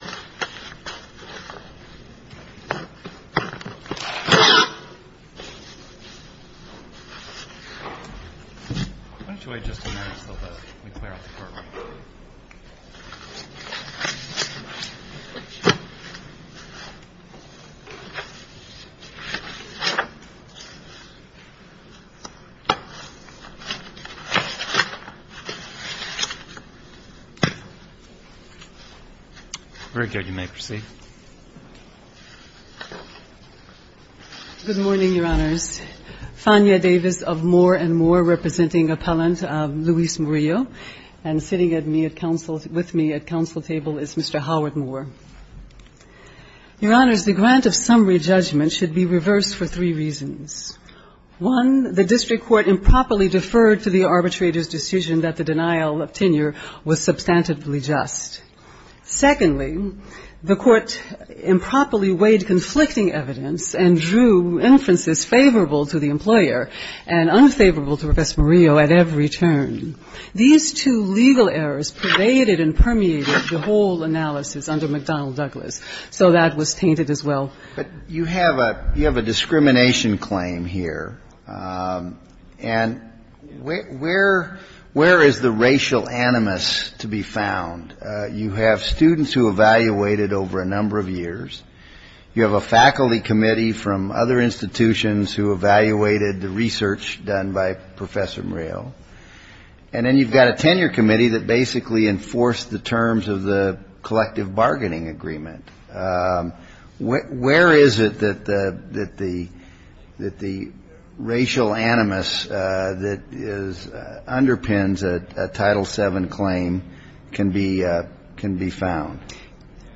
Why don't you wait just a minute so that we clear out the courtroom? Very good. You may proceed. Good morning, Your Honors. Fania Davis of Moore and Moore, representing appellant Luis Murillo. And sitting with me at counsel table is Mr. Howard Moore. Your Honors, the grant of summary judgment should be reversed for three reasons. One, the district court improperly deferred to the arbitrator's decision that the denial of tenure was substantively just. Secondly, the court improperly weighed conflicting evidence and drew inferences favorable to the employer and unfavorable to Professor Murillo at every turn. These two legal errors pervaded and permeated the whole analysis under McDonnell Douglas, so that was tainted as well. But you have a discrimination claim here, and where is the racial animus to be found? You have students who evaluated over a number of years. You have a faculty committee from other institutions who evaluated the research done by Professor Murillo. And then you've got a tenure committee that basically enforced the terms of the collective bargaining agreement. Where is it that the racial animus that underpins a Title VII claim can be found?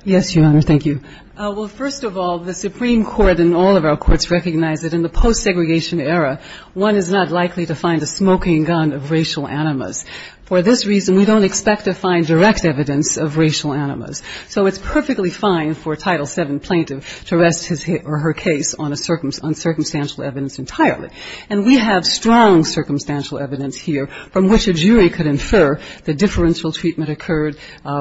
Yes, Your Honor. Thank you. Well, first of all, the Supreme Court and all of our courts recognize that in the post-segregation era, one is not likely to find a smoking gun of racial animus. For this reason, we don't expect to find direct evidence of racial animus. So it's perfectly fine for a Title VII plaintiff to rest his or her case on circumstantial evidence entirely. And we have strong circumstantial evidence here from which a jury could infer the differential treatment occurred,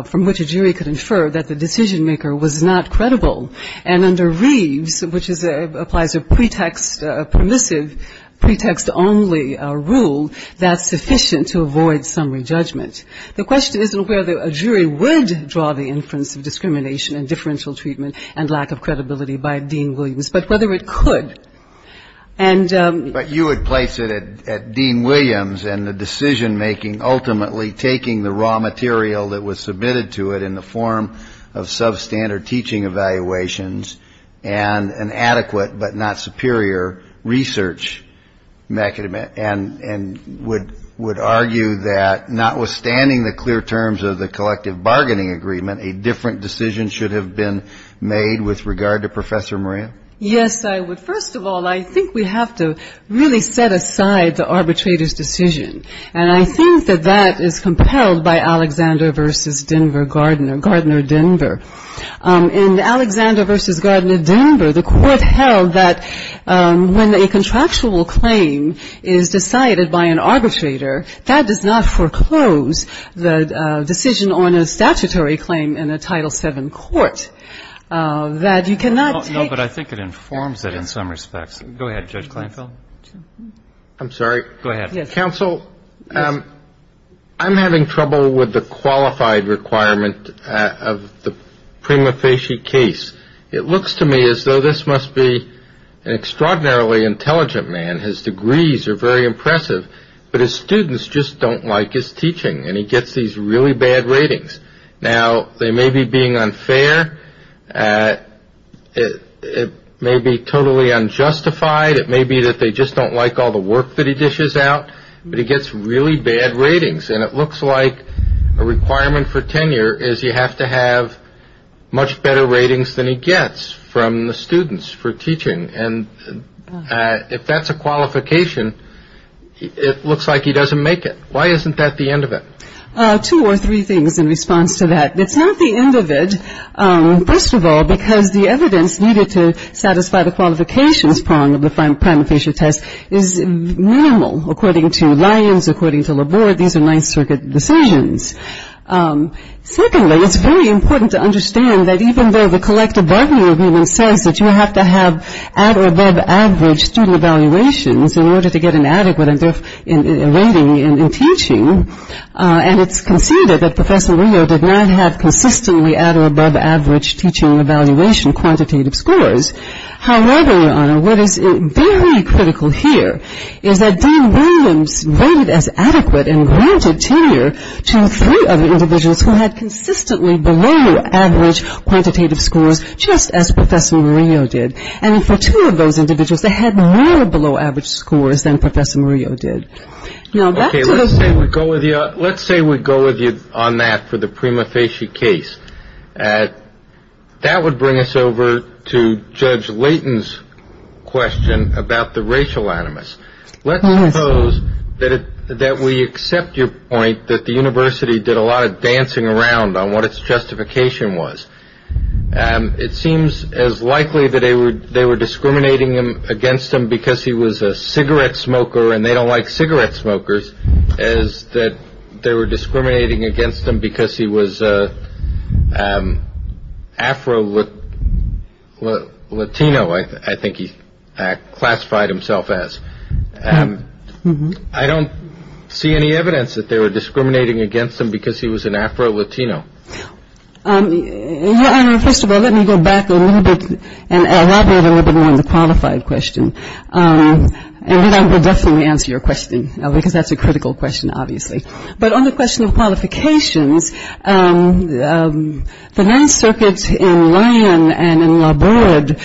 from which a jury could infer that the decision-maker was not credible. And under Reeves, which applies a pretext-permissive, pretext-only rule, that's sufficient to avoid summary judgment. The question isn't whether a jury would draw the inference of discrimination and differential treatment and lack of credibility by Dean Williams, but whether it could. But you would place it at Dean Williams and the decision-making, ultimately taking the raw material that was submitted to it in the form of substandard teaching evaluations, and an adequate, but not superior, research mechanism. And would argue that, notwithstanding the clear terms of the collective bargaining agreement, a different decision should have been made with regard to Professor Maria? Yes, I would. First of all, I think we have to really set aside the arbitrator's decision. And I think that that is compelled by Alexander v. Denver Gardner, Gardner-Denver. In Alexander v. Gardner-Denver, the Court held that when a contractual claim is decided by an arbitrator, that does not foreclose the decision on a statutory claim in a Title VII court. That you cannot take. No, but I think it informs it in some respects. Go ahead, Judge Kleinfeld. I'm sorry. Go ahead. Counsel, I'm having trouble with the qualified requirement of the Prima Facie case. It looks to me as though this must be an extraordinarily intelligent man. His degrees are very impressive, but his students just don't like his teaching. And he gets these really bad ratings. Now, they may be being unfair, it may be totally unjustified, it may be that they just don't like all the work that he dishes out. But he gets really bad ratings. And it looks like a requirement for tenure is you have to have much better ratings than he gets from the students for teaching. And if that's a qualification, it looks like he doesn't make it. Why isn't that the end of it? Two or three things in response to that. It's not the end of it, first of all, because the evidence needed to satisfy the qualifications prong of the Prima Facie test is minimal. According to Lyons, according to Laborde, these are Ninth Circuit decisions. Secondly, it's very important to understand that even though the collective bargaining agreement says that you have to have at or above average student evaluations in order to get an adequate rating in teaching, and it's conceded that Professor Rio did not have consistently at or above average teaching evaluation quantitative scores. However, Your Honor, what is very critical here is that Dean Williams rated as adequate and granted tenure to three other individuals who had consistently below average quantitative scores, just as Professor Mario did. And for two of those individuals, they had more below average scores than Professor Mario did. Now, let's say we go with you on that for the Prima Facie case. That would bring us over to Judge Layton's question about the racial animus. Let's suppose that we accept your point that the university did a lot of dancing around on what its justification was. It seems as likely that they were discriminating against him because he was a cigarette smoker and they don't like cigarette smokers, as that they were discriminating against him because he was an Afro-Latino, I think he classified himself as. I don't see any evidence that they were discriminating against him because he was an Afro-Latino. Your Honor, first of all, let me go back a little bit and elaborate a little bit more on the qualified question, and then I will definitely answer your question because that's a critical question, obviously. But on the question of qualifications, the Ninth Circuit in Lyon and in La Borde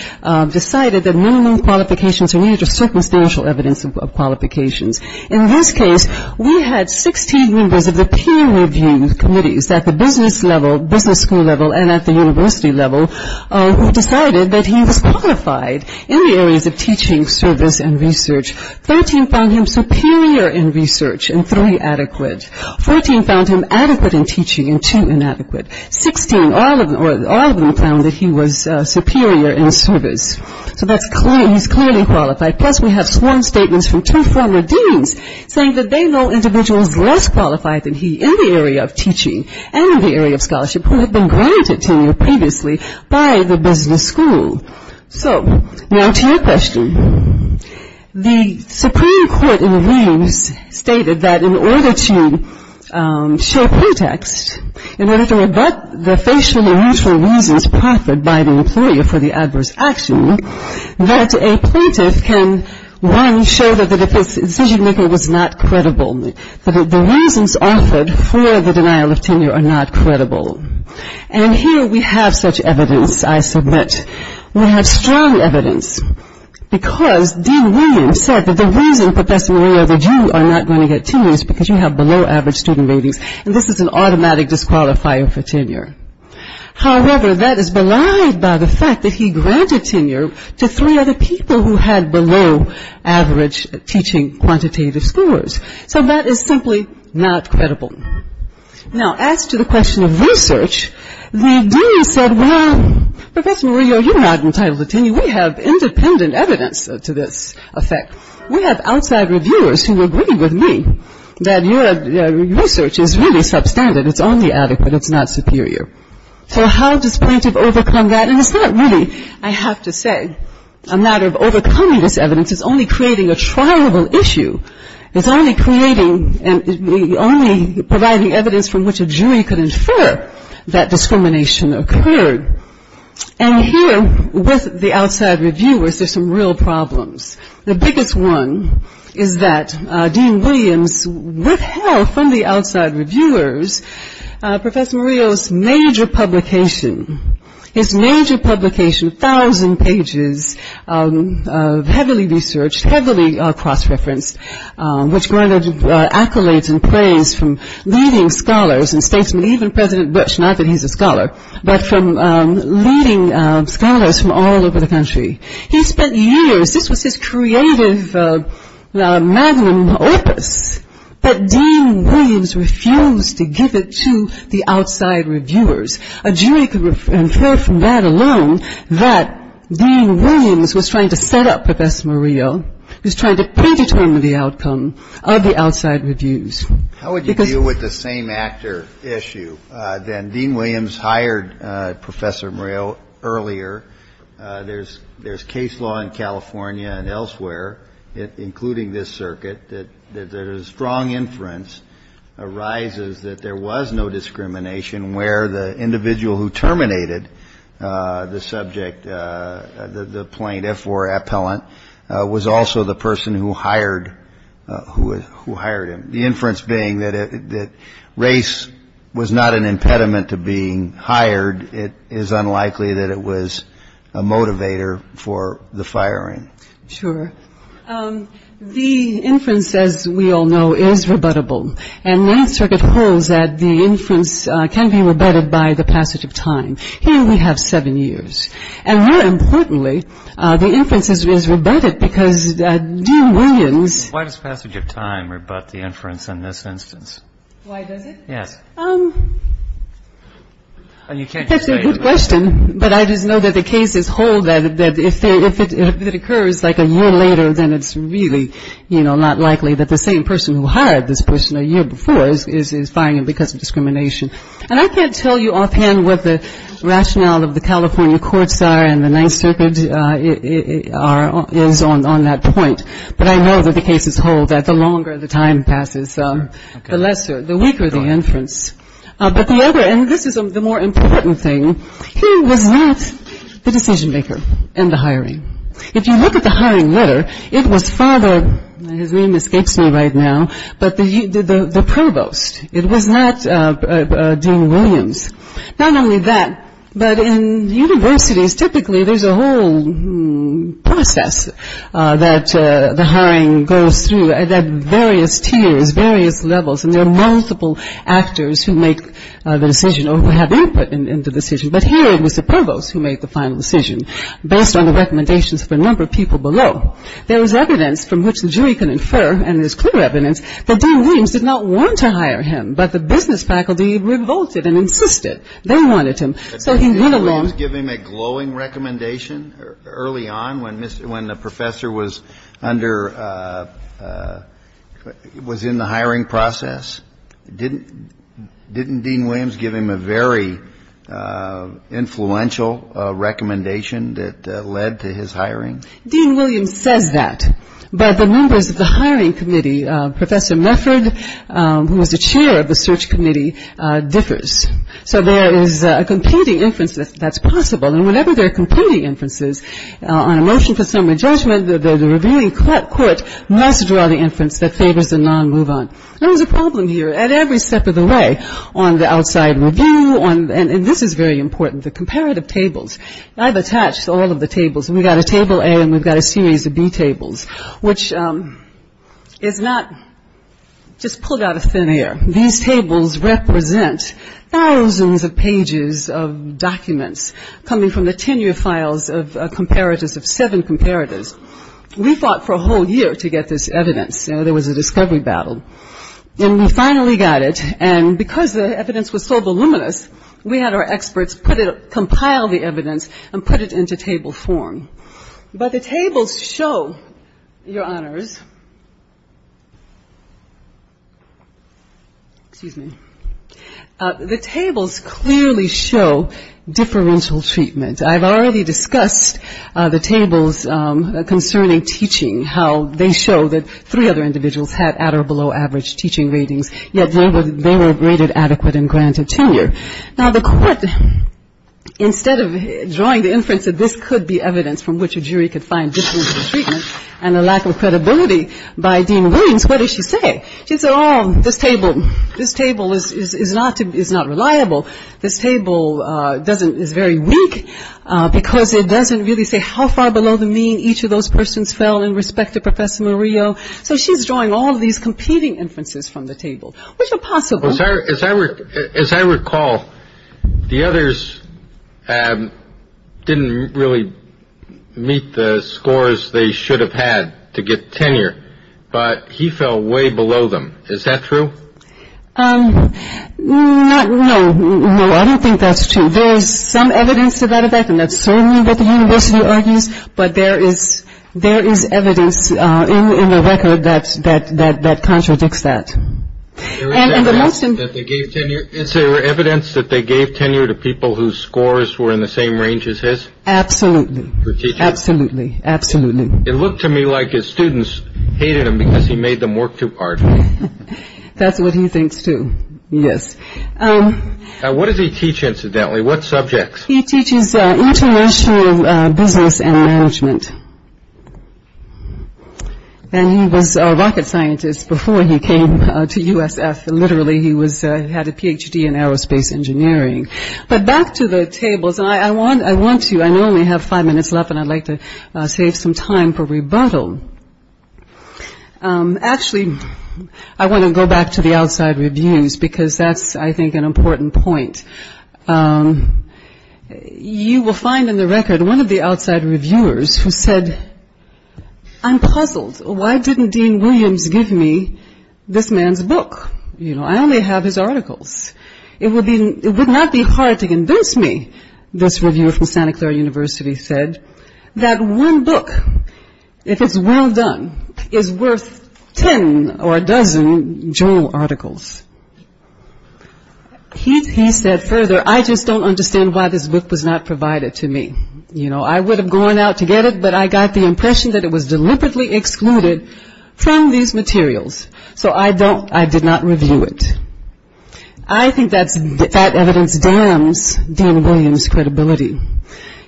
decided that minimum qualifications are needed for circumstantial evidence of qualifications. In this case, we had 16 members of the peer review committees at the business level, business school level, and at the university level who decided that he was qualified in the areas of teaching, service, and research. Thirteen found him superior in research and three adequate. Fourteen found him adequate in teaching and two inadequate. Sixteen, all of them found that he was superior in service. So he's clearly qualified, plus we have sworn statements from two former deans saying that they know individuals less qualified than he in the area of teaching and in the area of scholarship who have been granted tenure previously by the business school. So, now to your question. The Supreme Court in the Leaves stated that in order to show context, in order to rebut the facial or mutual reasons proffered by the employee for the adverse action, that a plaintiff can, one, show that the decision-maker was not credible, that the reasons offered for the denial of tenure are not credible. And here we have such evidence, I submit. We have strong evidence because Dean Williams said that the reason, Professor Maria, that you are not going to get tenure is because you have below average student ratings and this is an automatic disqualifier for tenure. However, that is belied by the fact that he granted tenure to three other people who had below average teaching quantitative scores. So that is simply not credible. Now, as to the question of research, the dean said, well, Professor Maria, you're not entitled to tenure. We have independent evidence to this effect. We have outside reviewers who agree with me that your research is really substandard. It's only adequate. It's not superior. So, how does plaintiff overcome that? And it's not really, I have to say, a matter of overcoming this evidence. It's only creating a trialable issue. It's only creating, only providing evidence from which a jury could infer that discrimination occurred. And here, with the outside reviewers, there's some real problems. The biggest one is that Dean Williams withheld from the outside reviewers, Professor Maria's major publication, his major publication, 2,000 pages of heavily researched, heavily cross-referenced, which granted accolades and praise from leading scholars and statesmen, even President Bush, not that he's a scholar, but from leading scholars from all over the country. He spent years, this was his creative magnum opus, but Dean Williams refused to give it to the outside reviewers. A jury could infer from that alone that Dean Williams was trying to set up Professor Maria, was trying to predetermine the outcome of the outside reviews. Because- How would you deal with the same actor issue then? Dean Williams hired Professor Maria earlier. There's case law in California and elsewhere, including this circuit, that there's a strong inference arises that there was no discrimination where the individual who terminated the subject, the plaintiff or appellant, was also the person who hired him. The inference being that race was not an impediment to being hired. It is unlikely that it was a motivator for the firing. Sure. The inference, as we all know, is rebuttable. And Ninth Circuit holds that the inference can be rebutted by the passage of time. Here we have seven years. And more importantly, the inference is rebutted because Dean Williams- Why does passage of time rebut the inference in this instance? Why does it? Yes. You can't just say- That's a good question. But I just know that the cases hold that if it occurs like a year later, then it's really not likely that the same person who hired this person a year before is firing him because of discrimination. And I can't tell you offhand what the rationale of the California courts are and the Ninth Circuit is on that point. But I know that the cases hold that the longer the time passes, the lesser, the weaker the inference. But the other, and this is the more important thing, who was not the decision maker in the hiring? If you look at the hiring letter, it was father, his name escapes me right now, but the provost. It was not Dean Williams. Not only that, but in universities, typically, there's a whole process that the hiring goes through at various tiers, various levels. And there are multiple actors who make the decision or who have input in the decision. But here, it was the provost who made the final decision based on the recommendations of a number of people below. There is evidence from which the jury can infer, and there's clear evidence, that Dean Williams did not want to hire him. But the business faculty revolted and insisted they wanted him. So he went along- Did Dean Williams give him a glowing recommendation early on when the professor was in the hiring process? Didn't Dean Williams give him a very influential recommendation that led to his hiring? Dean Williams says that. But the members of the hiring committee, Professor Mefford, who was the chair of the search committee, differs. So there is a competing inference that's possible. And whenever there are competing inferences on a motion for summary judgment, the reviewing court must draw the inference that favors the non-move-on. There was a problem here at every step of the way on the outside review, and this is very important, the comparative tables. I've attached all of the tables. We've got a table A and we've got a series of B tables, which is not just pulled out of thin air. These tables represent thousands of pages of documents coming from the tenure files of comparators, of seven comparators. We fought for a whole year to get this evidence. There was a discovery battle. And we finally got it. And because the evidence was so voluminous, we had our experts compile the evidence and put it into table form. But the tables show, Your Honors, excuse me, the tables clearly show differential treatment. I've already discussed the tables concerning teaching, how they show that three other individuals had at or below average teaching ratings, yet they were rated adequate and granted tenure. Now, the court, instead of drawing the inference that this could be evidence from which a jury could find differential treatment and a lack of credibility by Dean Williams, what does she say? She'd say, oh, this table is not reliable. This table doesn't is very weak because it doesn't really say how far below the mean each of those persons fell in respect to Professor Murillo. So she's drawing all of these competing inferences from the table, which are possible. As I recall, the others didn't really meet the scores they should have had to get tenure, but he fell way below them. Is that true? No, no, I don't think that's true. There is some evidence to that effect, and that's certainly what the university argues. But there is there is evidence in the record that that that contradicts that. And the most that they gave tenure, it's their evidence that they gave tenure to people whose scores were in the same range as his. Absolutely. Absolutely. Absolutely. It looked to me like his students hated him because he made them work too hard. That's what he thinks, too. Yes. What does he teach? Incidentally, what subjects? He teaches international business and management. And he was a rocket scientist before he came to USF. Literally, he was had a Ph.D. in aerospace engineering. But back to the tables. I want I want to I know we have five minutes left and I'd like to save some time for rebuttal. Actually, I want to go back to the outside reviews, because that's, I think, an important point. You will find in the record one of the outside reviewers who said, I'm puzzled. Why didn't Dean Williams give me this man's book? You know, I only have his articles. It would be it would not be hard to convince me. This review from Santa Clara University said that one book, if it's well done, is worth ten or a dozen journal articles. He said further, I just don't understand why this book was not provided to me. You know, I would have gone out to get it, but I got the impression that it was deliberately excluded from these materials. So I don't I did not review it. I think that's that evidence damns Dan Williams credibility.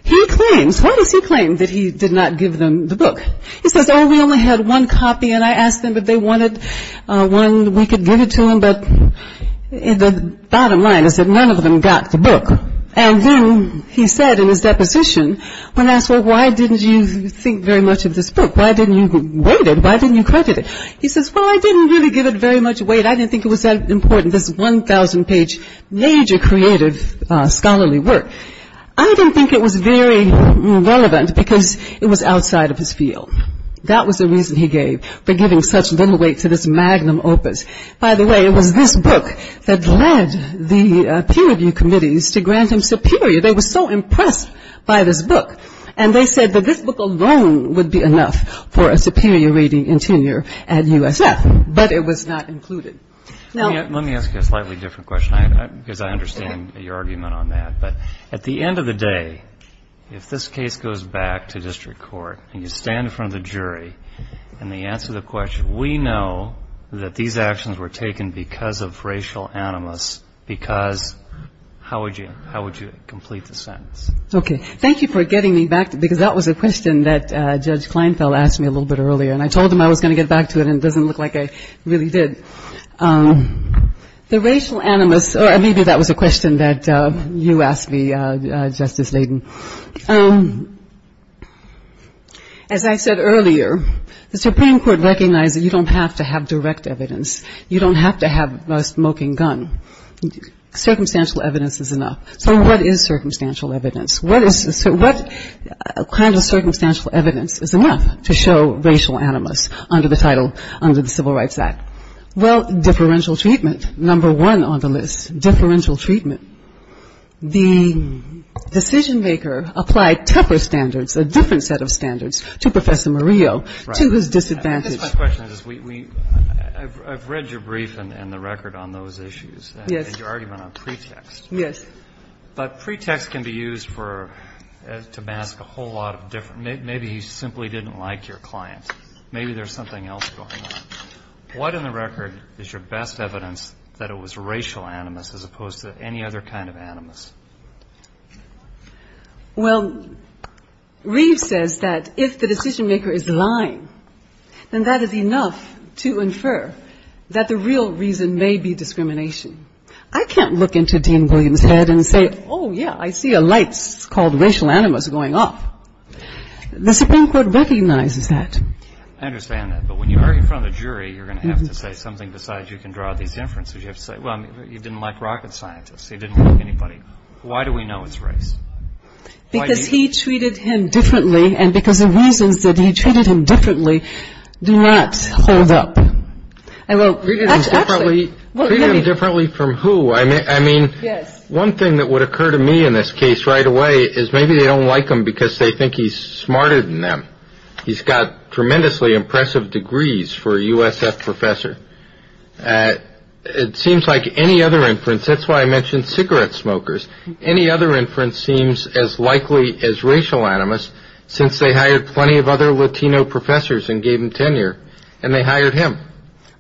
He claims what does he claim that he did not give them the book? He says, oh, we only had one copy. And I asked them if they wanted one. We could give it to him. But in the bottom line is that none of them got the book. And then he said in his deposition, when asked, well, why didn't you think very much of this book? Why didn't you read it? Why didn't you credit it? He says, well, I didn't really give it very much weight. I didn't think it was that important. This 1000 page major creative scholarly work. I didn't think it was very relevant because it was outside of his field. That was the reason he gave for giving such little weight to this magnum opus. By the way, it was this book that led the peer review committees to grant him superior. They were so impressed by this book. And they said that this book alone would be enough for a superior reading and tenure at USF. But it was not included. Now, let me ask you a slightly different question, because I understand your argument on that. But at the end of the day, if this case goes back to district court and you stand in front of the jury and they answer the question, we know that these actions were taken because of racial animus, because how would you how would you complete the sentence? OK, thank you for getting me back, because that was a question that Judge Kleinfeld asked me a little bit earlier. And I told him I was going to get back to it. And it doesn't look like I really did the racial animus. Or maybe that was a question that you asked me, Justice Layden. As I said earlier, the Supreme Court recognized that you don't have to have direct evidence. You don't have to have a smoking gun. Circumstantial evidence is enough. So what is circumstantial evidence? What is what kind of circumstantial evidence is enough to show racial animus under the title under the Civil Rights Act? Well, differential treatment. Number one on the list. Differential treatment. The decision maker applied temper standards, a different set of standards to Professor Murillo, to his disadvantage. My question is, we I've read your brief and the record on those issues. Yes. You already went on pretext. Yes. But pretext can be used for to mask a whole lot of different maybe you simply didn't like your client. Maybe there's something else going on. What in the record is your best evidence that it was racial animus as opposed to any other kind of animus? Well, Reeve says that if the decision maker is lying, then that is enough to infer that the real reason may be discrimination. I can't look into Dean Williams' head and say, oh, yeah, I see a light called racial animus going off. The Supreme Court recognizes that. I understand that. But when you are in front of the jury, you're going to have to say something besides you can draw these inferences. You have to say, well, you didn't like rocket scientists. You didn't like anybody. Why do we know it's race? Because he treated him differently. And because of reasons that he treated him differently, do not hold up. I will read it differently from who I mean. I mean, yes. One thing that would occur to me in this case right away is maybe they don't like him because they think he's smarter than them. He's got tremendously impressive degrees for USF professor. It seems like any other inference. That's why I mentioned cigarette smokers. Any other inference seems as likely as racial animus since they hired plenty of other Latino professors and gave him tenure and they hired him.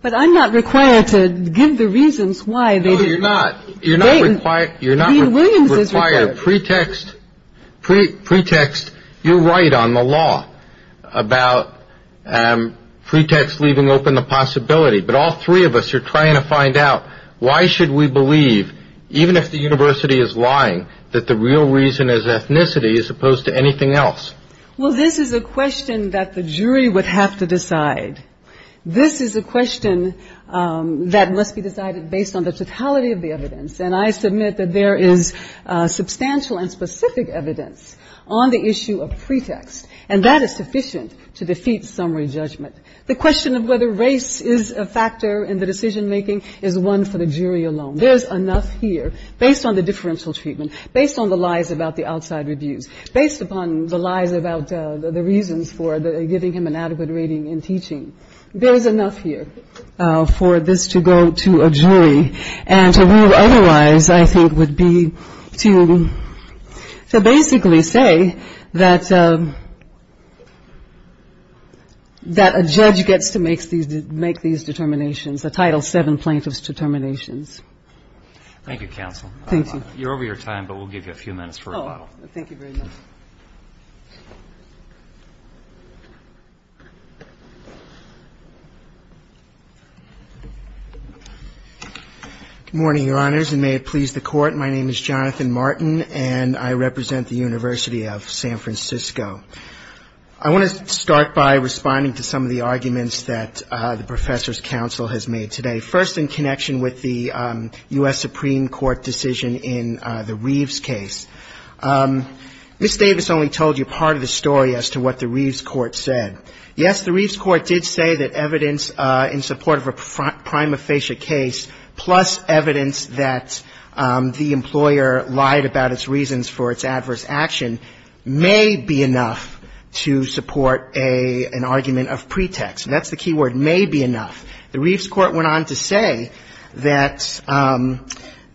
But I'm not required to give the reasons why they do not. You're not required. You're not willing to require a pretext, pretext. You're right on the law about pretext, leaving open the possibility. But all three of us are trying to find out why should we believe, even if the university is lying, that the real reason is ethnicity as opposed to anything else? Well, this is a question that the jury would have to decide. This is a question that must be decided based on the totality of the evidence. And I submit that there is substantial and specific evidence on the issue of pretext. And that is sufficient to defeat summary judgment. The question of whether race is a factor in the decision making is one for the jury alone. There is enough here based on the differential treatment, based on the lies about the outside reviews, based upon the lies about the reasons for giving him an adequate rating in teaching. There is enough here for this to go to a jury. And to rule otherwise, I think, would be to basically say that a judge gets to make these determinations, the Title VII plaintiff's determinations. Thank you, counsel. You're over your time, but we'll give you a few minutes for rebuttal. Thank you very much. Good morning, Your Honors, and may it please the Court. My name is Jonathan Martin, and I represent the University of San Francisco. I want to start by responding to some of the arguments that the professor's counsel has made today. First, in connection with the U.S. Supreme Court decision in the Reeves case. Ms. Davis only told you part of the story as to what the Reeves court said. Yes, the Reeves court did say that evidence in support of a prima facie case, plus evidence that the employer lied about its reasons for its adverse action, may be enough to support an argument of pretext. That's the key word, may be enough. The Reeves court went on to say that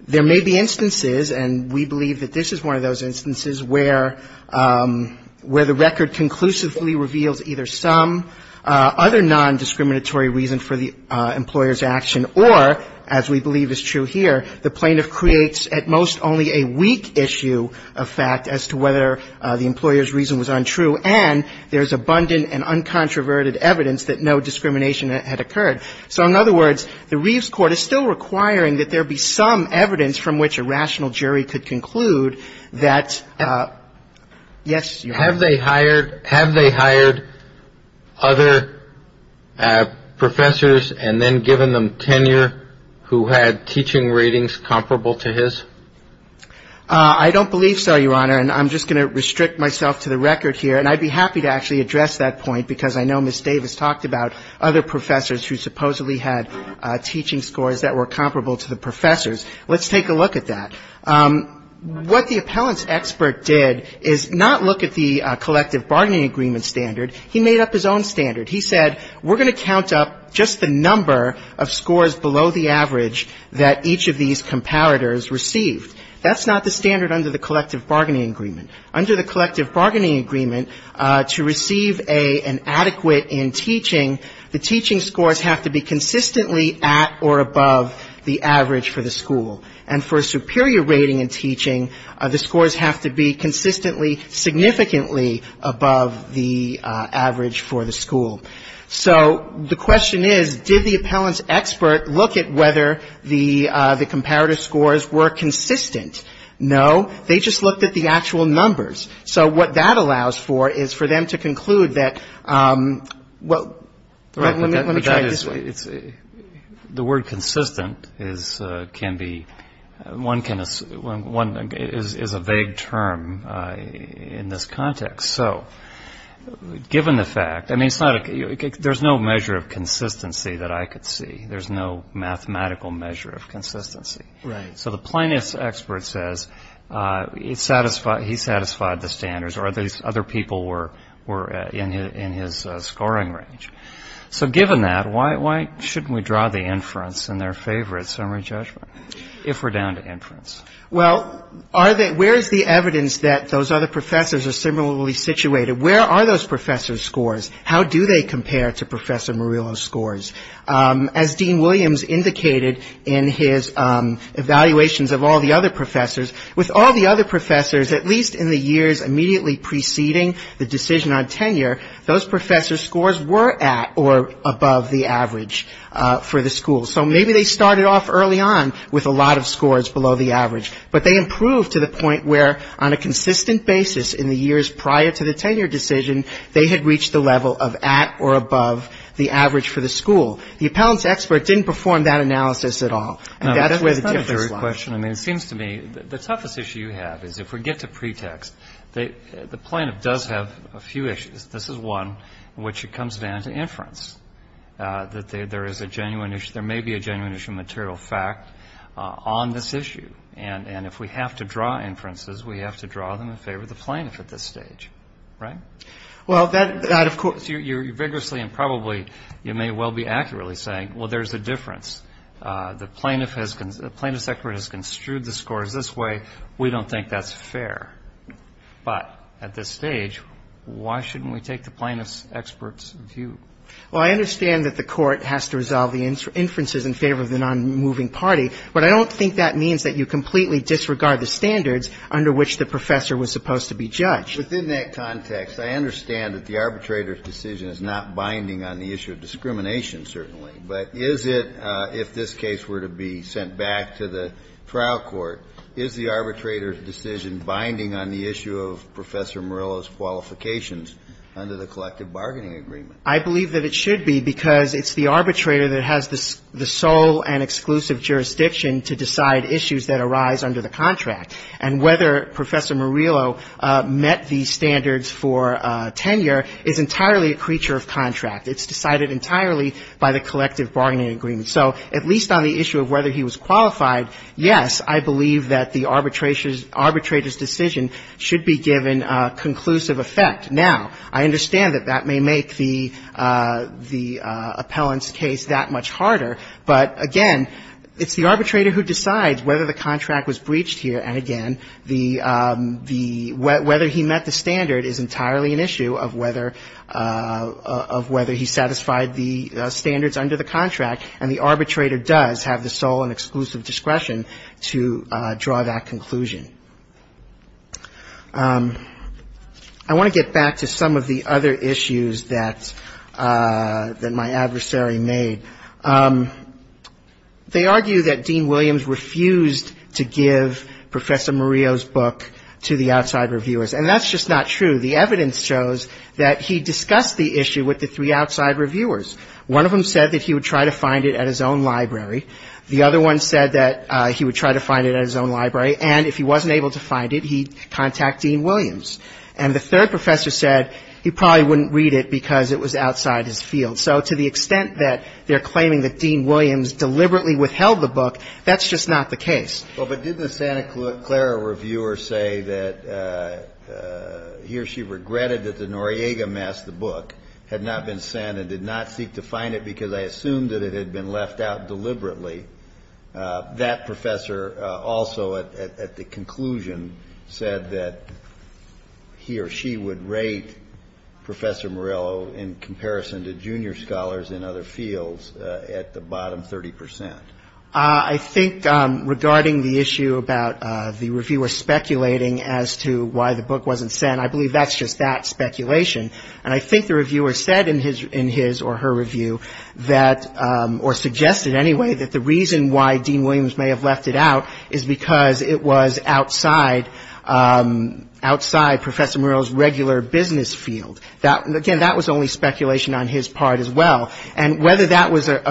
there may be instances, and we believe that this is one of those instances, where the record conclusively reveals either some other non-discriminatory reason for the employer's action, or, as we believe is true here, the plaintiff creates at most only a weak issue of fact as to whether the employer's reason was untrue, and there's abundant and uncontroverted evidence that no discrimination had occurred. So, in other words, the Reeves court is still requiring that there be some evidence from which a rational jury could conclude that, yes, Your Honor. Have they hired other professors and then given them tenure who had teaching ratings comparable to his? I don't believe so, Your Honor, and I'm just going to restrict myself to the record here, and I'd be happy to actually address that point because I know Ms. Davis talked about other professors who supposedly had teaching scores that were comparable to the professor's. Let's take a look at that. What the appellant's expert did is not look at the collective bargaining agreement standard. He made up his own standard. He said, we're going to count up just the number of scores below the average that each of these comparators received. That's not the standard under the collective bargaining agreement. Under the collective bargaining agreement, to receive an adequate in teaching, the teaching scores have to be consistently at or above the average for the school. And for a superior rating in teaching, the scores have to be consistently, significantly above the average for the school. So the question is, did the appellant's expert look at whether the comparator scores were consistent? No, they just looked at the actual numbers. So what that allows for is for them to conclude that, well, let me try it this way. The word consistent is a vague term in this context. So given the fact, I mean, there's no measure of consistency that I could see. There's no mathematical measure of consistency. So the plaintiff's expert says he satisfied the standards or these other people were in his scoring range. So given that, why shouldn't we draw the inference in their favor at summary judgment, if we're down to inference? Well, where is the evidence that those other professors are similarly situated? Where are those professors' scores? As Dean Williams indicated in his evaluations of all the other professors, with all the other professors, at least in the years immediately preceding the decision on tenure, those professors' scores were at or above the average for the school. So maybe they started off early on with a lot of scores below the average, but they improved to the point where on a consistent basis in the years prior to the tenure decision, they had reached the level of at or above the average for the school. The appellant's expert didn't perform that analysis at all. And that's where the difference lies. It seems to me, the toughest issue you have is if we get to pretext, the plaintiff does have a few issues. This is one in which it comes down to inference, that there is a genuine issue. There may be a genuine issue of material fact on this issue. And if we have to draw inferences, we have to draw them in favor of the plaintiff at this stage, right? Well, that, of course, you're vigorously and probably, you may well be accurately saying, well, there's a difference. The plaintiff has, the plaintiff's expert has construed the scores this way. We don't think that's fair. But at this stage, why shouldn't we take the plaintiff's expert's view? Well, I understand that the court has to resolve the inferences in favor of the non-moving party. But I don't think that means that you completely disregard the standards under which the professor was supposed to be judged. But in that context, I understand that the arbitrator's decision is not binding on the issue of discrimination, certainly. But is it, if this case were to be sent back to the trial court, is the arbitrator's decision binding on the issue of Professor Morello's qualifications under the collective bargaining agreement? I believe that it should be, because it's the arbitrator that has the sole and exclusive jurisdiction to decide issues that arise under the contract. And whether Professor Morello met the standards for tenure is entirely a creature of contract. It's decided entirely by the collective bargaining agreement. So at least on the issue of whether he was qualified, yes, I believe that the arbitrator's decision should be given a conclusive effect. Now, I understand that that may make the appellant's case that much harder. But again, it's the arbitrator who decides whether the contract was breached here. And again, whether he met the standard is entirely an issue of whether he satisfied the standards under the contract. And the arbitrator does have the sole and exclusive discretion to draw that conclusion. I want to get back to some of the other issues that my adversary made. They argue that Dean Williams refused to give Professor Morello's book to the outside reviewers. And that's just not true. The evidence shows that he discussed the issue with the three outside reviewers. One of them said that he would try to find it at his own library. The other one said that he would try to find it at his own library. And if he wasn't able to find it, he'd contact Dean Williams. And the third professor said he probably wouldn't read it because it was outside his field. So to the extent that they're claiming that Dean Williams deliberately withheld the book, that's just not the case. Well, but didn't the Santa Clara reviewer say that he or she regretted that the Noriega mass, the book, had not been sent and did not seek to find it because I assumed that it had been left out deliberately? That professor also at the conclusion said that he or she would rate Professor Morello in comparison to junior scholars in other fields at the bottom 30 percent. I think regarding the issue about the reviewer speculating as to why the book wasn't sent, I believe that's just that, speculation. And I think the reviewer said in his or her review that, or suggested anyway, that the reason why Dean Williams may have left it out is because it was outside Professor Morello's regular business field. Again, that was only speculation on his part as well. And whether that was a,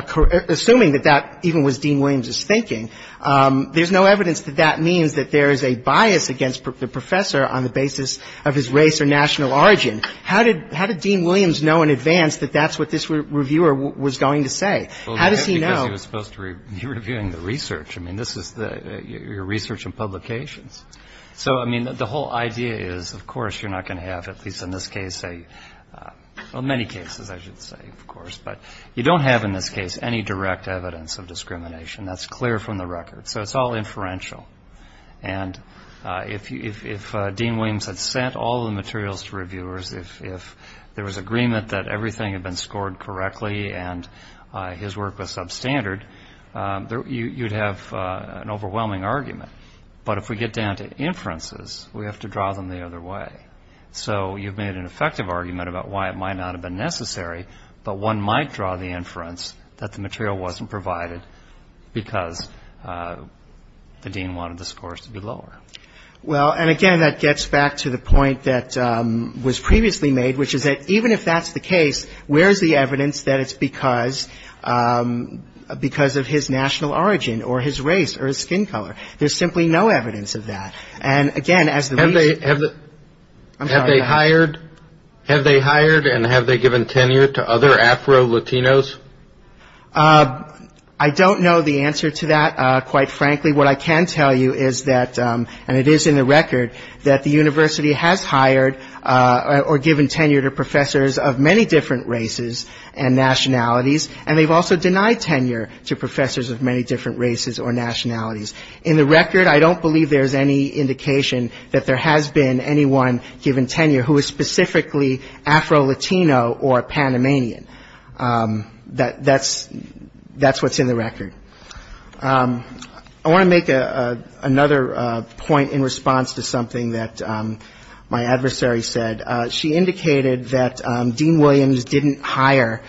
assuming that that even was Dean Williams's thinking, there's no evidence that that means that there is a bias against the professor on the basis of his race or national origin. How did Dean Williams know in advance that that's what this reviewer was going to say? How does he know? Because he was supposed to be reviewing the research. I mean, this is your research and publications. So, I mean, the whole idea is, of course, you're not going to have, at least in this case, well, many cases, I should say, of course. But you don't have in this case any direct evidence of discrimination. That's clear from the record. So it's all inferential. And if Dean Williams had sent all the materials to reviewers, if there was agreement that everything had been scored correctly and his work was substandard, you'd have an overwhelming argument. But if we get down to inferences, we have to draw them the other way. So you've made an effective argument about why it might not have been necessary, but one might draw the inference that the material wasn't provided because the dean wanted the scores to be lower. Well, and again, that gets back to the point that was previously made, which is that even if that's the case, where is the evidence that it's because of his national origin or his race or his skin color? There's simply no evidence of that. Have they hired and have they given tenure to other Afro-Latinos? I don't know the answer to that, quite frankly. What I can tell you is that, and it is in the record, that the university has hired or given tenure to professors of many different races and nationalities, and they've also denied tenure to professors of many different races or nationalities. In the record, I don't believe there's any indication that there has been anyone given tenure who is specifically Afro-Latino or Panamanian. That's what's in the record. I want to make another point in response to something that my adversary said. She indicated that Dean Williams didn't hire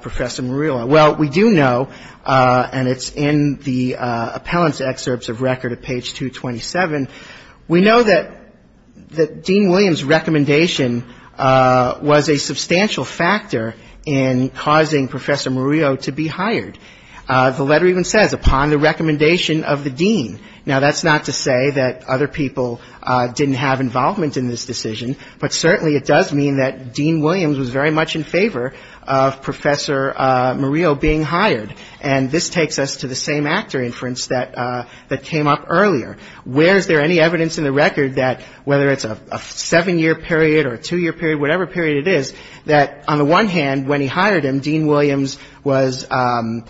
Professor Murillo. Well, we do know, and it's in the appellant's excerpts of record at page 227, we know that Dean Williams' recommendation was a substantial factor in causing Professor Murillo to be hired. The letter even says, upon the recommendation of the dean. Now, that's not to say that other people didn't have involvement in this decision, but certainly it does mean that Dean Williams was very much in favor of Professor Murillo being hired, and this takes us to the same actor inference that came up earlier. Where is there any evidence in the record that, whether it's a seven-year period or a two-year period, whatever period it is, that on the one hand, when he hired him, Dean Williams was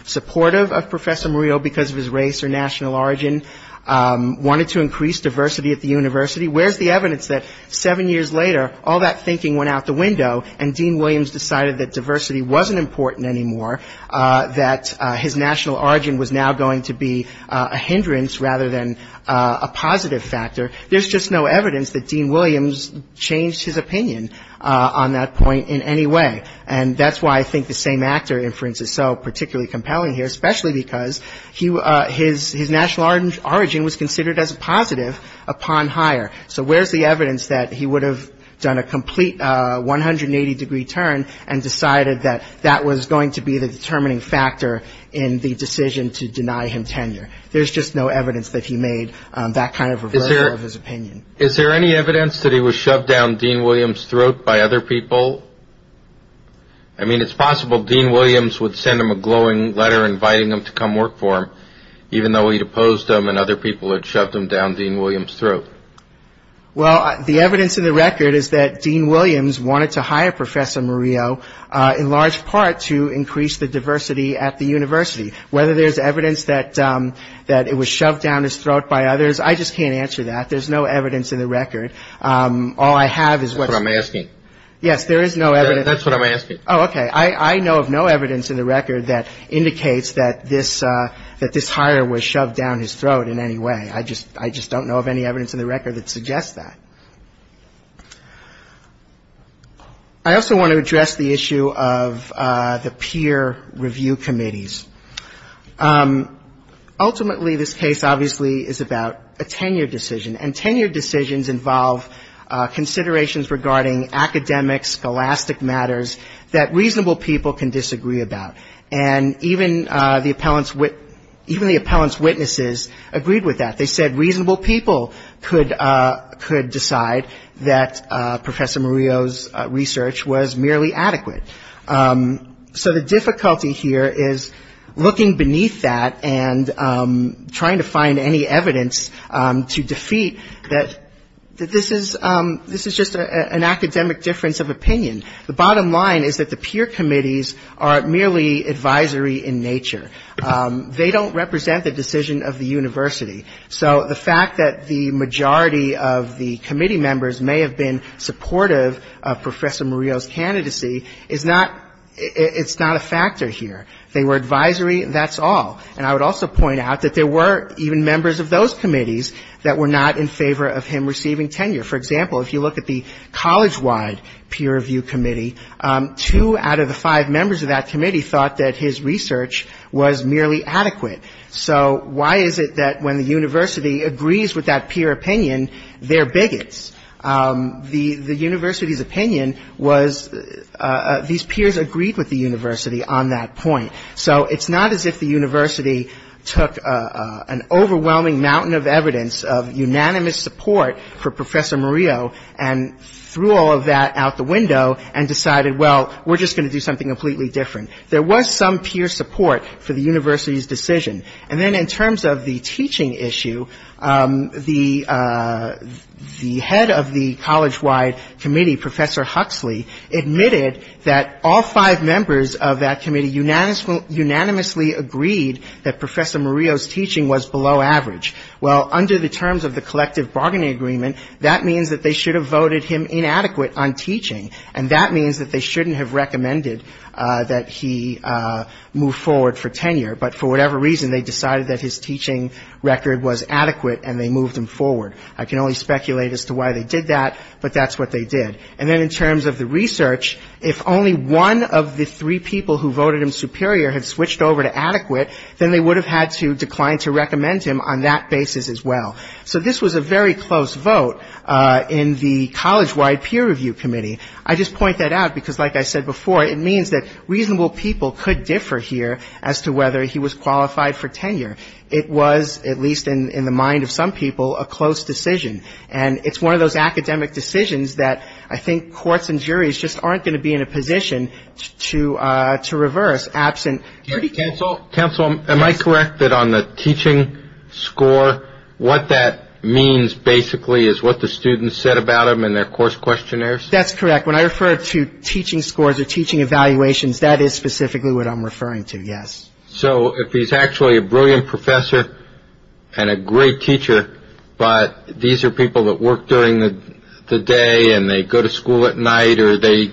supportive of Professor Murillo because of his race or national origin, wanted to increase diversity at the university. Where's the evidence that seven years later, all that thinking went out the window and Dean Williams decided that diversity wasn't important anymore, that his national origin was now going to be a hindrance rather than a positive factor? There's just no evidence that Dean Williams changed his opinion on that point in any way. And that's why I think the same actor inference is so particularly compelling here, especially because his national origin was considered as a positive upon hire. So where's the evidence that he would have done a complete 180-degree turn and decided that that was going to be the determining factor in the decision to deny him tenure? There's just no evidence that he made that kind of reversal of his opinion. Is there any evidence that he was shoved down Dean Williams' throat by other people? I mean, it's possible Dean Williams would send him a glowing letter inviting him to come work for him, even though he'd opposed him and other people had shoved him down Dean Williams' throat. Well, the evidence in the record is that Dean Williams wanted to hire Professor Murillo, in large part, to increase the diversity at the university. Whether there's evidence that it was shoved down his throat by others, I just can't answer that. There's no evidence in the record. All I have is what I'm asking. Yes, there is no evidence. That's what I'm asking. Oh, okay. I know of no evidence in the record that indicates that this hire was shoved down his throat in any way. I just don't know of any evidence in the record that suggests that. I also want to address the issue of the peer review committees. Ultimately, this case obviously is about a tenure decision, and tenure decisions involve considerations regarding academic, scholastic matters that reasonable people can disagree about. And even the appellant's witnesses agreed with that. They said reasonable people could decide that Professor Murillo's research was merely adequate. So the difficulty here is looking beneath that and trying to find any evidence to defeat that this is just an academic difference of opinion. The bottom line is that the peer committees are merely advisory in nature. They don't represent the decision of the university. So the fact that the majority of the committee members may have been supportive of Professor Murillo's candidacy is not ‑‑ it's not a factor here. They were advisory, that's all. And I would also point out that there were even members of those committees that were not in favor of him receiving tenure. For example, if you look at the college-wide peer review committee, two out of the five members of that committee thought that his research was merely adequate. So why is it that when the university agrees with that peer opinion, they're bigots? The university's opinion was these peers agreed with the university on that point. So it's not as if the university took an overwhelming mountain of evidence of unanimous support for Professor Murillo and threw all of that out the window and decided, well, we're just going to do something completely different. There was some peer support for the university's decision. And then in terms of the teaching issue, the head of the college-wide committee, Professor Huxley, admitted that all five members of that committee unanimously agreed that Professor Murillo's teaching was below average. Well, under the terms of the collective bargaining agreement, that means that they should have voted him inadequate on teaching, and that means that they shouldn't have recommended that he move forward for tenure. But for whatever reason, they decided that his teaching record was adequate, and they moved him forward. I can only speculate as to why they did that, but that's what they did. And then in terms of the research, if only one of the three people who voted him superior had switched over to adequate, then they would have had to decline to recommend him on that basis as well. So this was a very close vote in the college-wide peer review committee. I just point that out because, like I said before, it means that reasonable people could differ here as to whether he was qualified for tenure. It was, at least in the mind of some people, a close decision. And it's one of those academic decisions that I think courts and juries just aren't going to be in a position to reverse absent. Counsel, am I correct that on the teaching score, what that means basically is what the students said about him in their course questionnaires? That's correct. When I refer to teaching scores or teaching evaluations, that is specifically what I'm referring to, yes. So if he's actually a brilliant professor and a great teacher, but these are people that work during the day and they go to school at night or they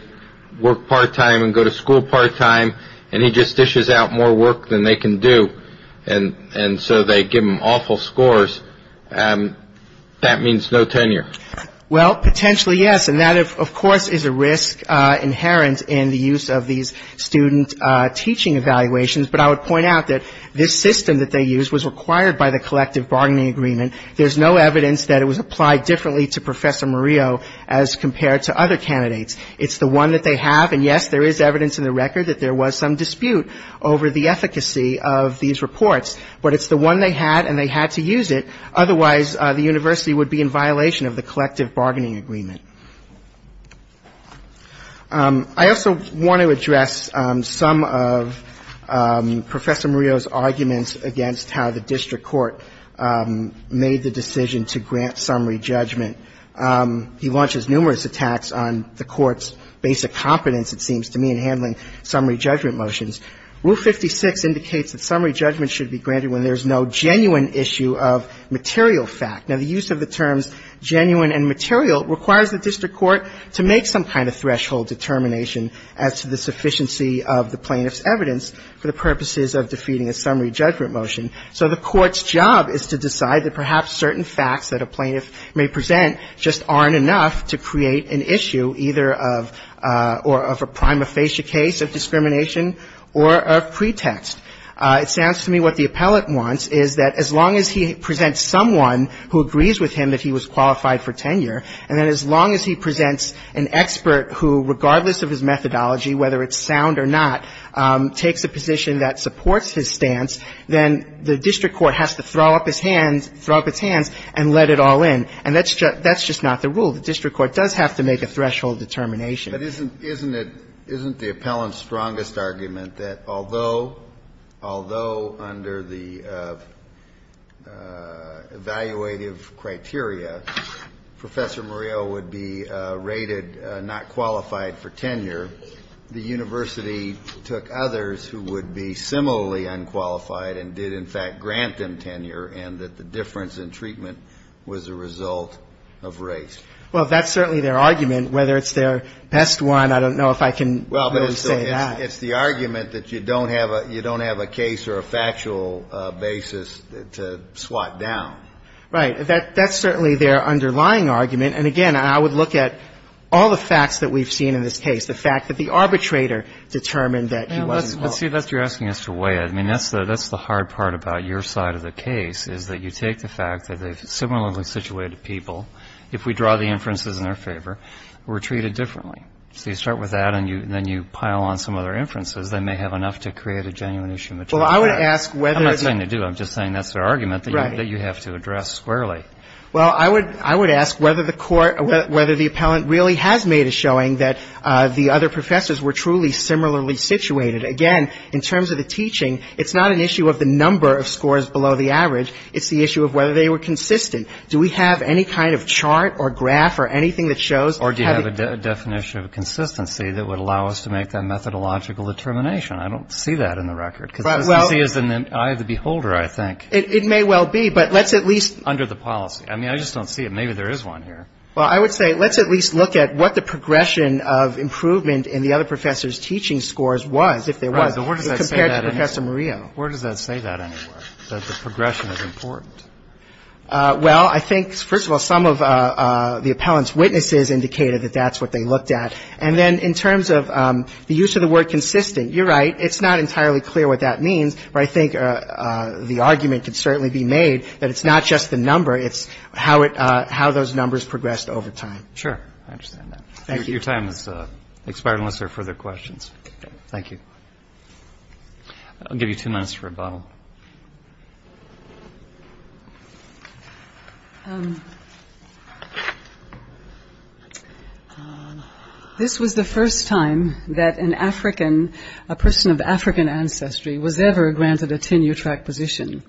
work part-time and go to school part-time and he just dishes out more work than they can do, and so they give him awful scores, that means no tenure? Well, potentially, yes. And that, of course, is a risk inherent in the use of these student teaching evaluations. But I would point out that this system that they used was required by the collective bargaining agreement. There's no evidence that it was applied differently to Professor Murillo as compared to other candidates. It's the one that they have. And, yes, there is evidence in the record that there was some dispute over the efficacy of these reports. But it's the one they had and they had to use it. Otherwise, the university would be in violation of the collective bargaining agreement. I also want to address some of Professor Murillo's arguments against how the district court made the decision to grant summary judgment. He launches numerous attacks on the court's basic competence, it seems to me, in handling summary judgment motions. Rule 56 indicates that summary judgment should be granted when there's no genuine issue of material fact. Now, the use of the terms genuine and material requires the district court to make some kind of threshold determination as to the sufficiency of the plaintiff's evidence for the purposes of defeating a summary judgment motion. So the court's job is to decide that perhaps certain facts that a plaintiff may present just aren't enough to create an issue either of or of a prima facie case of discrimination or of pretext. It sounds to me what the appellate wants is that as long as he presents someone who agrees with him that he was qualified for tenure, and then as long as he presents an expert who, regardless of his methodology, whether it's sound or not, takes a position that supports his stance, then the district court has to throw up his hands, throw up its hands, and let it all in. And that's just not the rule. The district court does have to make a threshold determination. But isn't the appellant's strongest argument that although under the evaluative criteria, Professor Murillo would be rated not qualified for tenure, the university took others who would be similarly unqualified and did, in fact, grant them tenure, and that the difference in treatment was a result of race? Well, that's certainly their argument. Whether it's their best one, I don't know if I can really say that. Well, but it's the argument that you don't have a case or a factual basis to swat down. Right. That's certainly their underlying argument. And, again, I would look at all the facts that we've seen in this case, the fact that the arbitrator determined that he wasn't qualified. Well, see, that's what you're asking us to weigh in. I mean, that's the hard part about your side of the case is that you take the fact that the similarly situated people, if we draw the inferences in their favor, were treated differently. So you start with that, and then you pile on some other inferences that may have enough to create a genuine issue of maturity. Well, I would ask whether the ---- I'm not saying they do. I'm just saying that's their argument that you have to address squarely. Well, I would ask whether the court or whether the appellant really has made a showing that the other professors were truly similarly situated. Again, in terms of the teaching, it's not an issue of the number of scores below the average. It's the issue of whether they were consistent. Do we have any kind of chart or graph or anything that shows how the ---- Or do you have a definition of consistency that would allow us to make that methodological determination? I don't see that in the record. Well ---- Because I see it as an eye of the beholder, I think. It may well be, but let's at least ---- Under the policy. I mean, I just don't see it. Maybe there is one here. Well, I would say let's at least look at what the progression of improvement in the other professors' teaching scores was, if there was, compared to Professor Murillo. Right. How does that say that anywhere, that the progression is important? Well, I think, first of all, some of the appellant's witnesses indicated that that's what they looked at. And then in terms of the use of the word consistent, you're right, it's not entirely clear what that means. But I think the argument could certainly be made that it's not just the number, it's how it ---- how those numbers progressed over time. Sure. I understand that. Thank you. Your time has expired unless there are further questions. Okay. Thank you. I'll give you two minutes for a bottle. This was the first time that an African, a person of African ancestry, was ever granted a tenure-track position.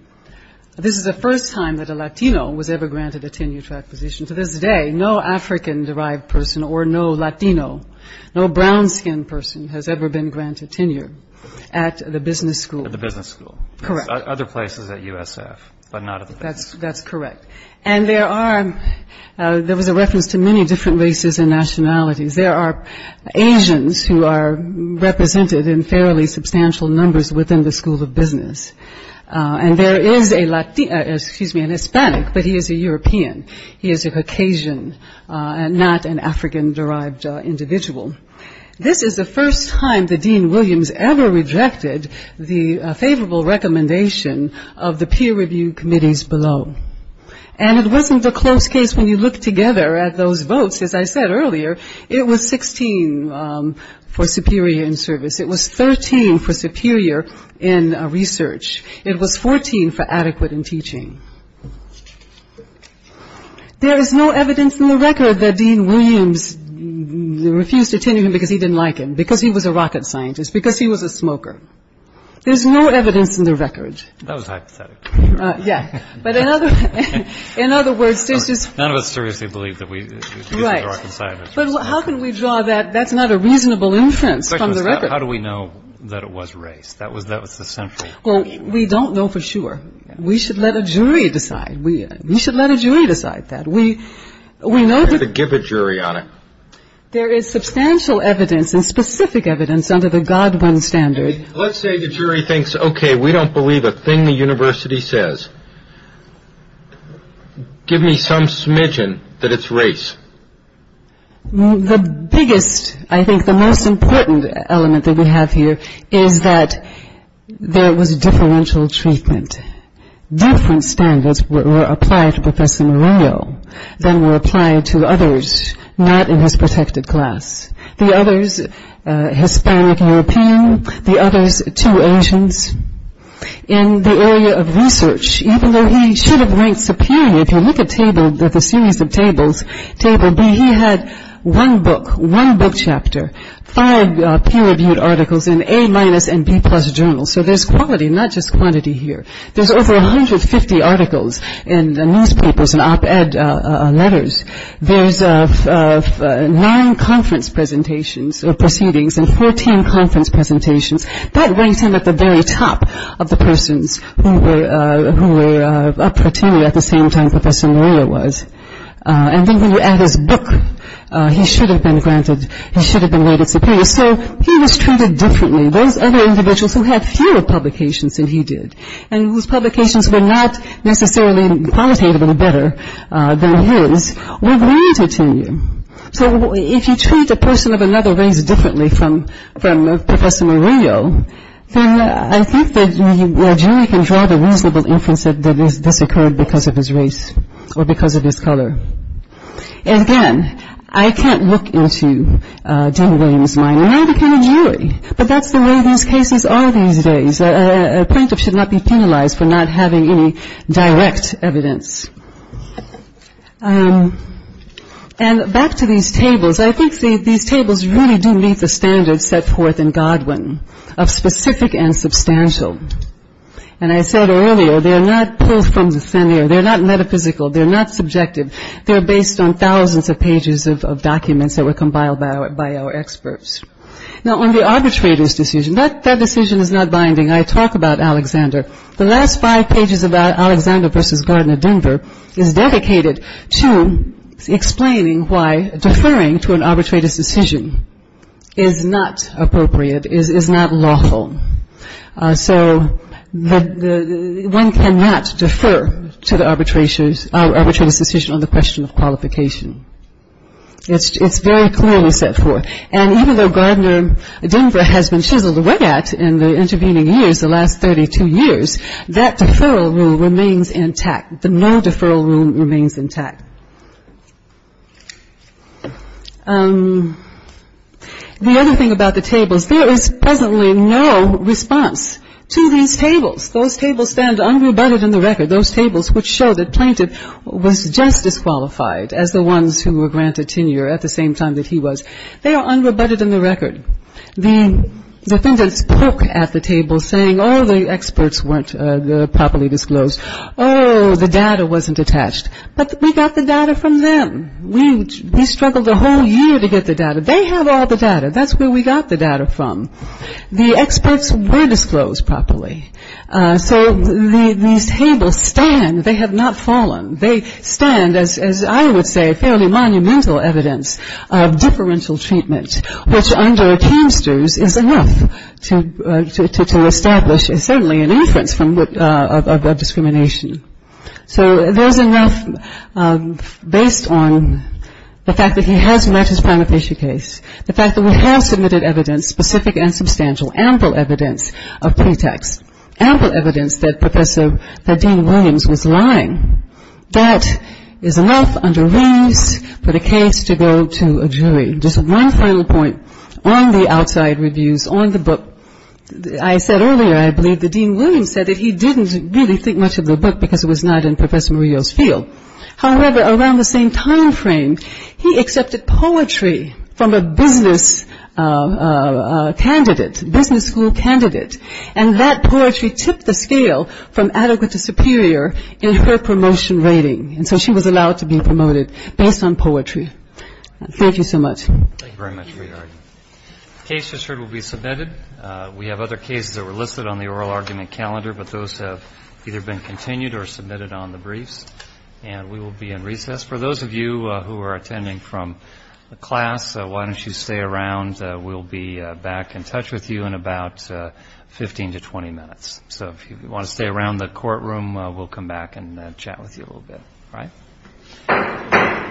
This is the first time that a Latino was ever granted a tenure-track position. To this day, no African-derived person or no Latino, no brown-skinned person, has ever been granted tenure at the business school. At the business school. Correct. Other places at USF, but not at the business school. That's correct. And there are ---- there was a reference to many different races and nationalities. There are Asians who are represented in fairly substantial numbers within the school of business. And there is a Latino ---- excuse me, an Hispanic, but he is a European. He is a Caucasian, not an African-derived individual. This is the first time that Dean Williams ever rejected the favorable recommendation of the peer review committees below. And it wasn't a close case when you look together at those votes. As I said earlier, it was 16 for superior in service. It was 13 for superior in research. It was 14 for adequate in teaching. There is no evidence in the record that Dean Williams refused to tenure him because he didn't like him, because he was a rocket scientist, because he was a smoker. There's no evidence in the record. That was hypothetical. Yeah. But in other words, there's just ---- None of us seriously believe that he was a rocket scientist. Right. But how can we draw that? That's not a reasonable inference from the record. How do we know that it was race? That was the central ---- Well, we don't know for sure. We should let a jury decide. We should let a jury decide that. We know that ---- We have to give a jury on it. There is substantial evidence and specific evidence under the Godwin standard. Let's say the jury thinks, okay, we don't believe a thing the university says. Give me some smidgen that it's race. The biggest, I think the most important element that we have here is that there was differential treatment. Different standards were applied to Professor Murillo than were applied to others not in his protected class. The others, Hispanic and European, the others, two Asians. In the area of research, even though he should have ranked superior, if you look at the table, the series of tables, table B, he had one book, one book chapter, five peer-reviewed articles in A- and B-plus journals. So there's quality, not just quantity here. There's over 150 articles in the newspapers and op-ed letters. There's nine conference presentations or proceedings and 14 conference presentations. That ranks him at the very top of the persons who were up for tenure at the same time Professor Murillo was. And then when you add his book, he should have been granted, he should have been rated superior. So he was treated differently. Those other individuals who had fewer publications than he did and whose publications were not necessarily qualitatively better than his were granted tenure. So if you treat a person of another race differently from Professor Murillo, then I think that a jury can draw the reasonable inference that this occurred because of his race or because of his color. And again, I can't look into Dean Williams' mind. He may become a jury, but that's the way these cases are these days. A plaintiff should not be penalized for not having any direct evidence. And back to these tables. I think these tables really do meet the standards set forth in Godwin of specific and substantial. And I said earlier, they're not pulled from the thin air. They're not metaphysical. They're not subjective. They're based on thousands of pages of documents that were compiled by our experts. Now, on the arbitrator's decision, that decision is not binding. I talk about Alexander. The last five pages of Alexander v. Gardner, Denver, is dedicated to explaining why deferring to an arbitrator's decision is not appropriate, is not lawful. So one cannot defer to the arbitrator's decision on the question of qualification. It's very clearly set forth. And even though Gardner, Denver has been chiseled away at in the intervening years, the last 32 years, that deferral rule remains intact. The no deferral rule remains intact. The other thing about the tables, there is presently no response to these tables. Those tables stand unrebutted in the record. Those tables which show that plaintiff was just as qualified as the ones who were granted tenure at the same time that he was. They are unrebutted in the record. The defendants poke at the table saying, oh, the experts weren't properly disclosed. Oh, the data wasn't attached. But we got the data from them. We struggled a whole year to get the data. They have all the data. That's where we got the data from. The experts were disclosed properly. So these tables stand. They have not fallen. They stand, as I would say, fairly monumental evidence of deferential treatment, which under canisters is enough to establish certainly an inference of discrimination. So there's enough based on the fact that he has met his prima facie case, the fact that we have submitted evidence, specific and substantial, ample evidence of pretext, ample evidence that Dean Williams was lying. That is enough under rings for the case to go to a jury. Just one final point on the outside reviews, on the book. I said earlier, I believe, that Dean Williams said that he didn't really think much of the book because it was not in Professor Murillo's field. However, around the same time frame, he accepted poetry from a business candidate, business school candidate. And that poetry tipped the scale from adequate to superior in her promotion rating. And so she was allowed to be promoted based on poetry. Thank you so much. Thank you very much for your argument. The case you just heard will be submitted. We have other cases that were listed on the oral argument calendar, but those have either been continued or submitted on the briefs, and we will be in recess. For those of you who are attending from the class, why don't you stay around? We'll be back in touch with you in about 15 to 20 minutes. So if you want to stay around the courtroom, we'll come back and chat with you a little bit. All right.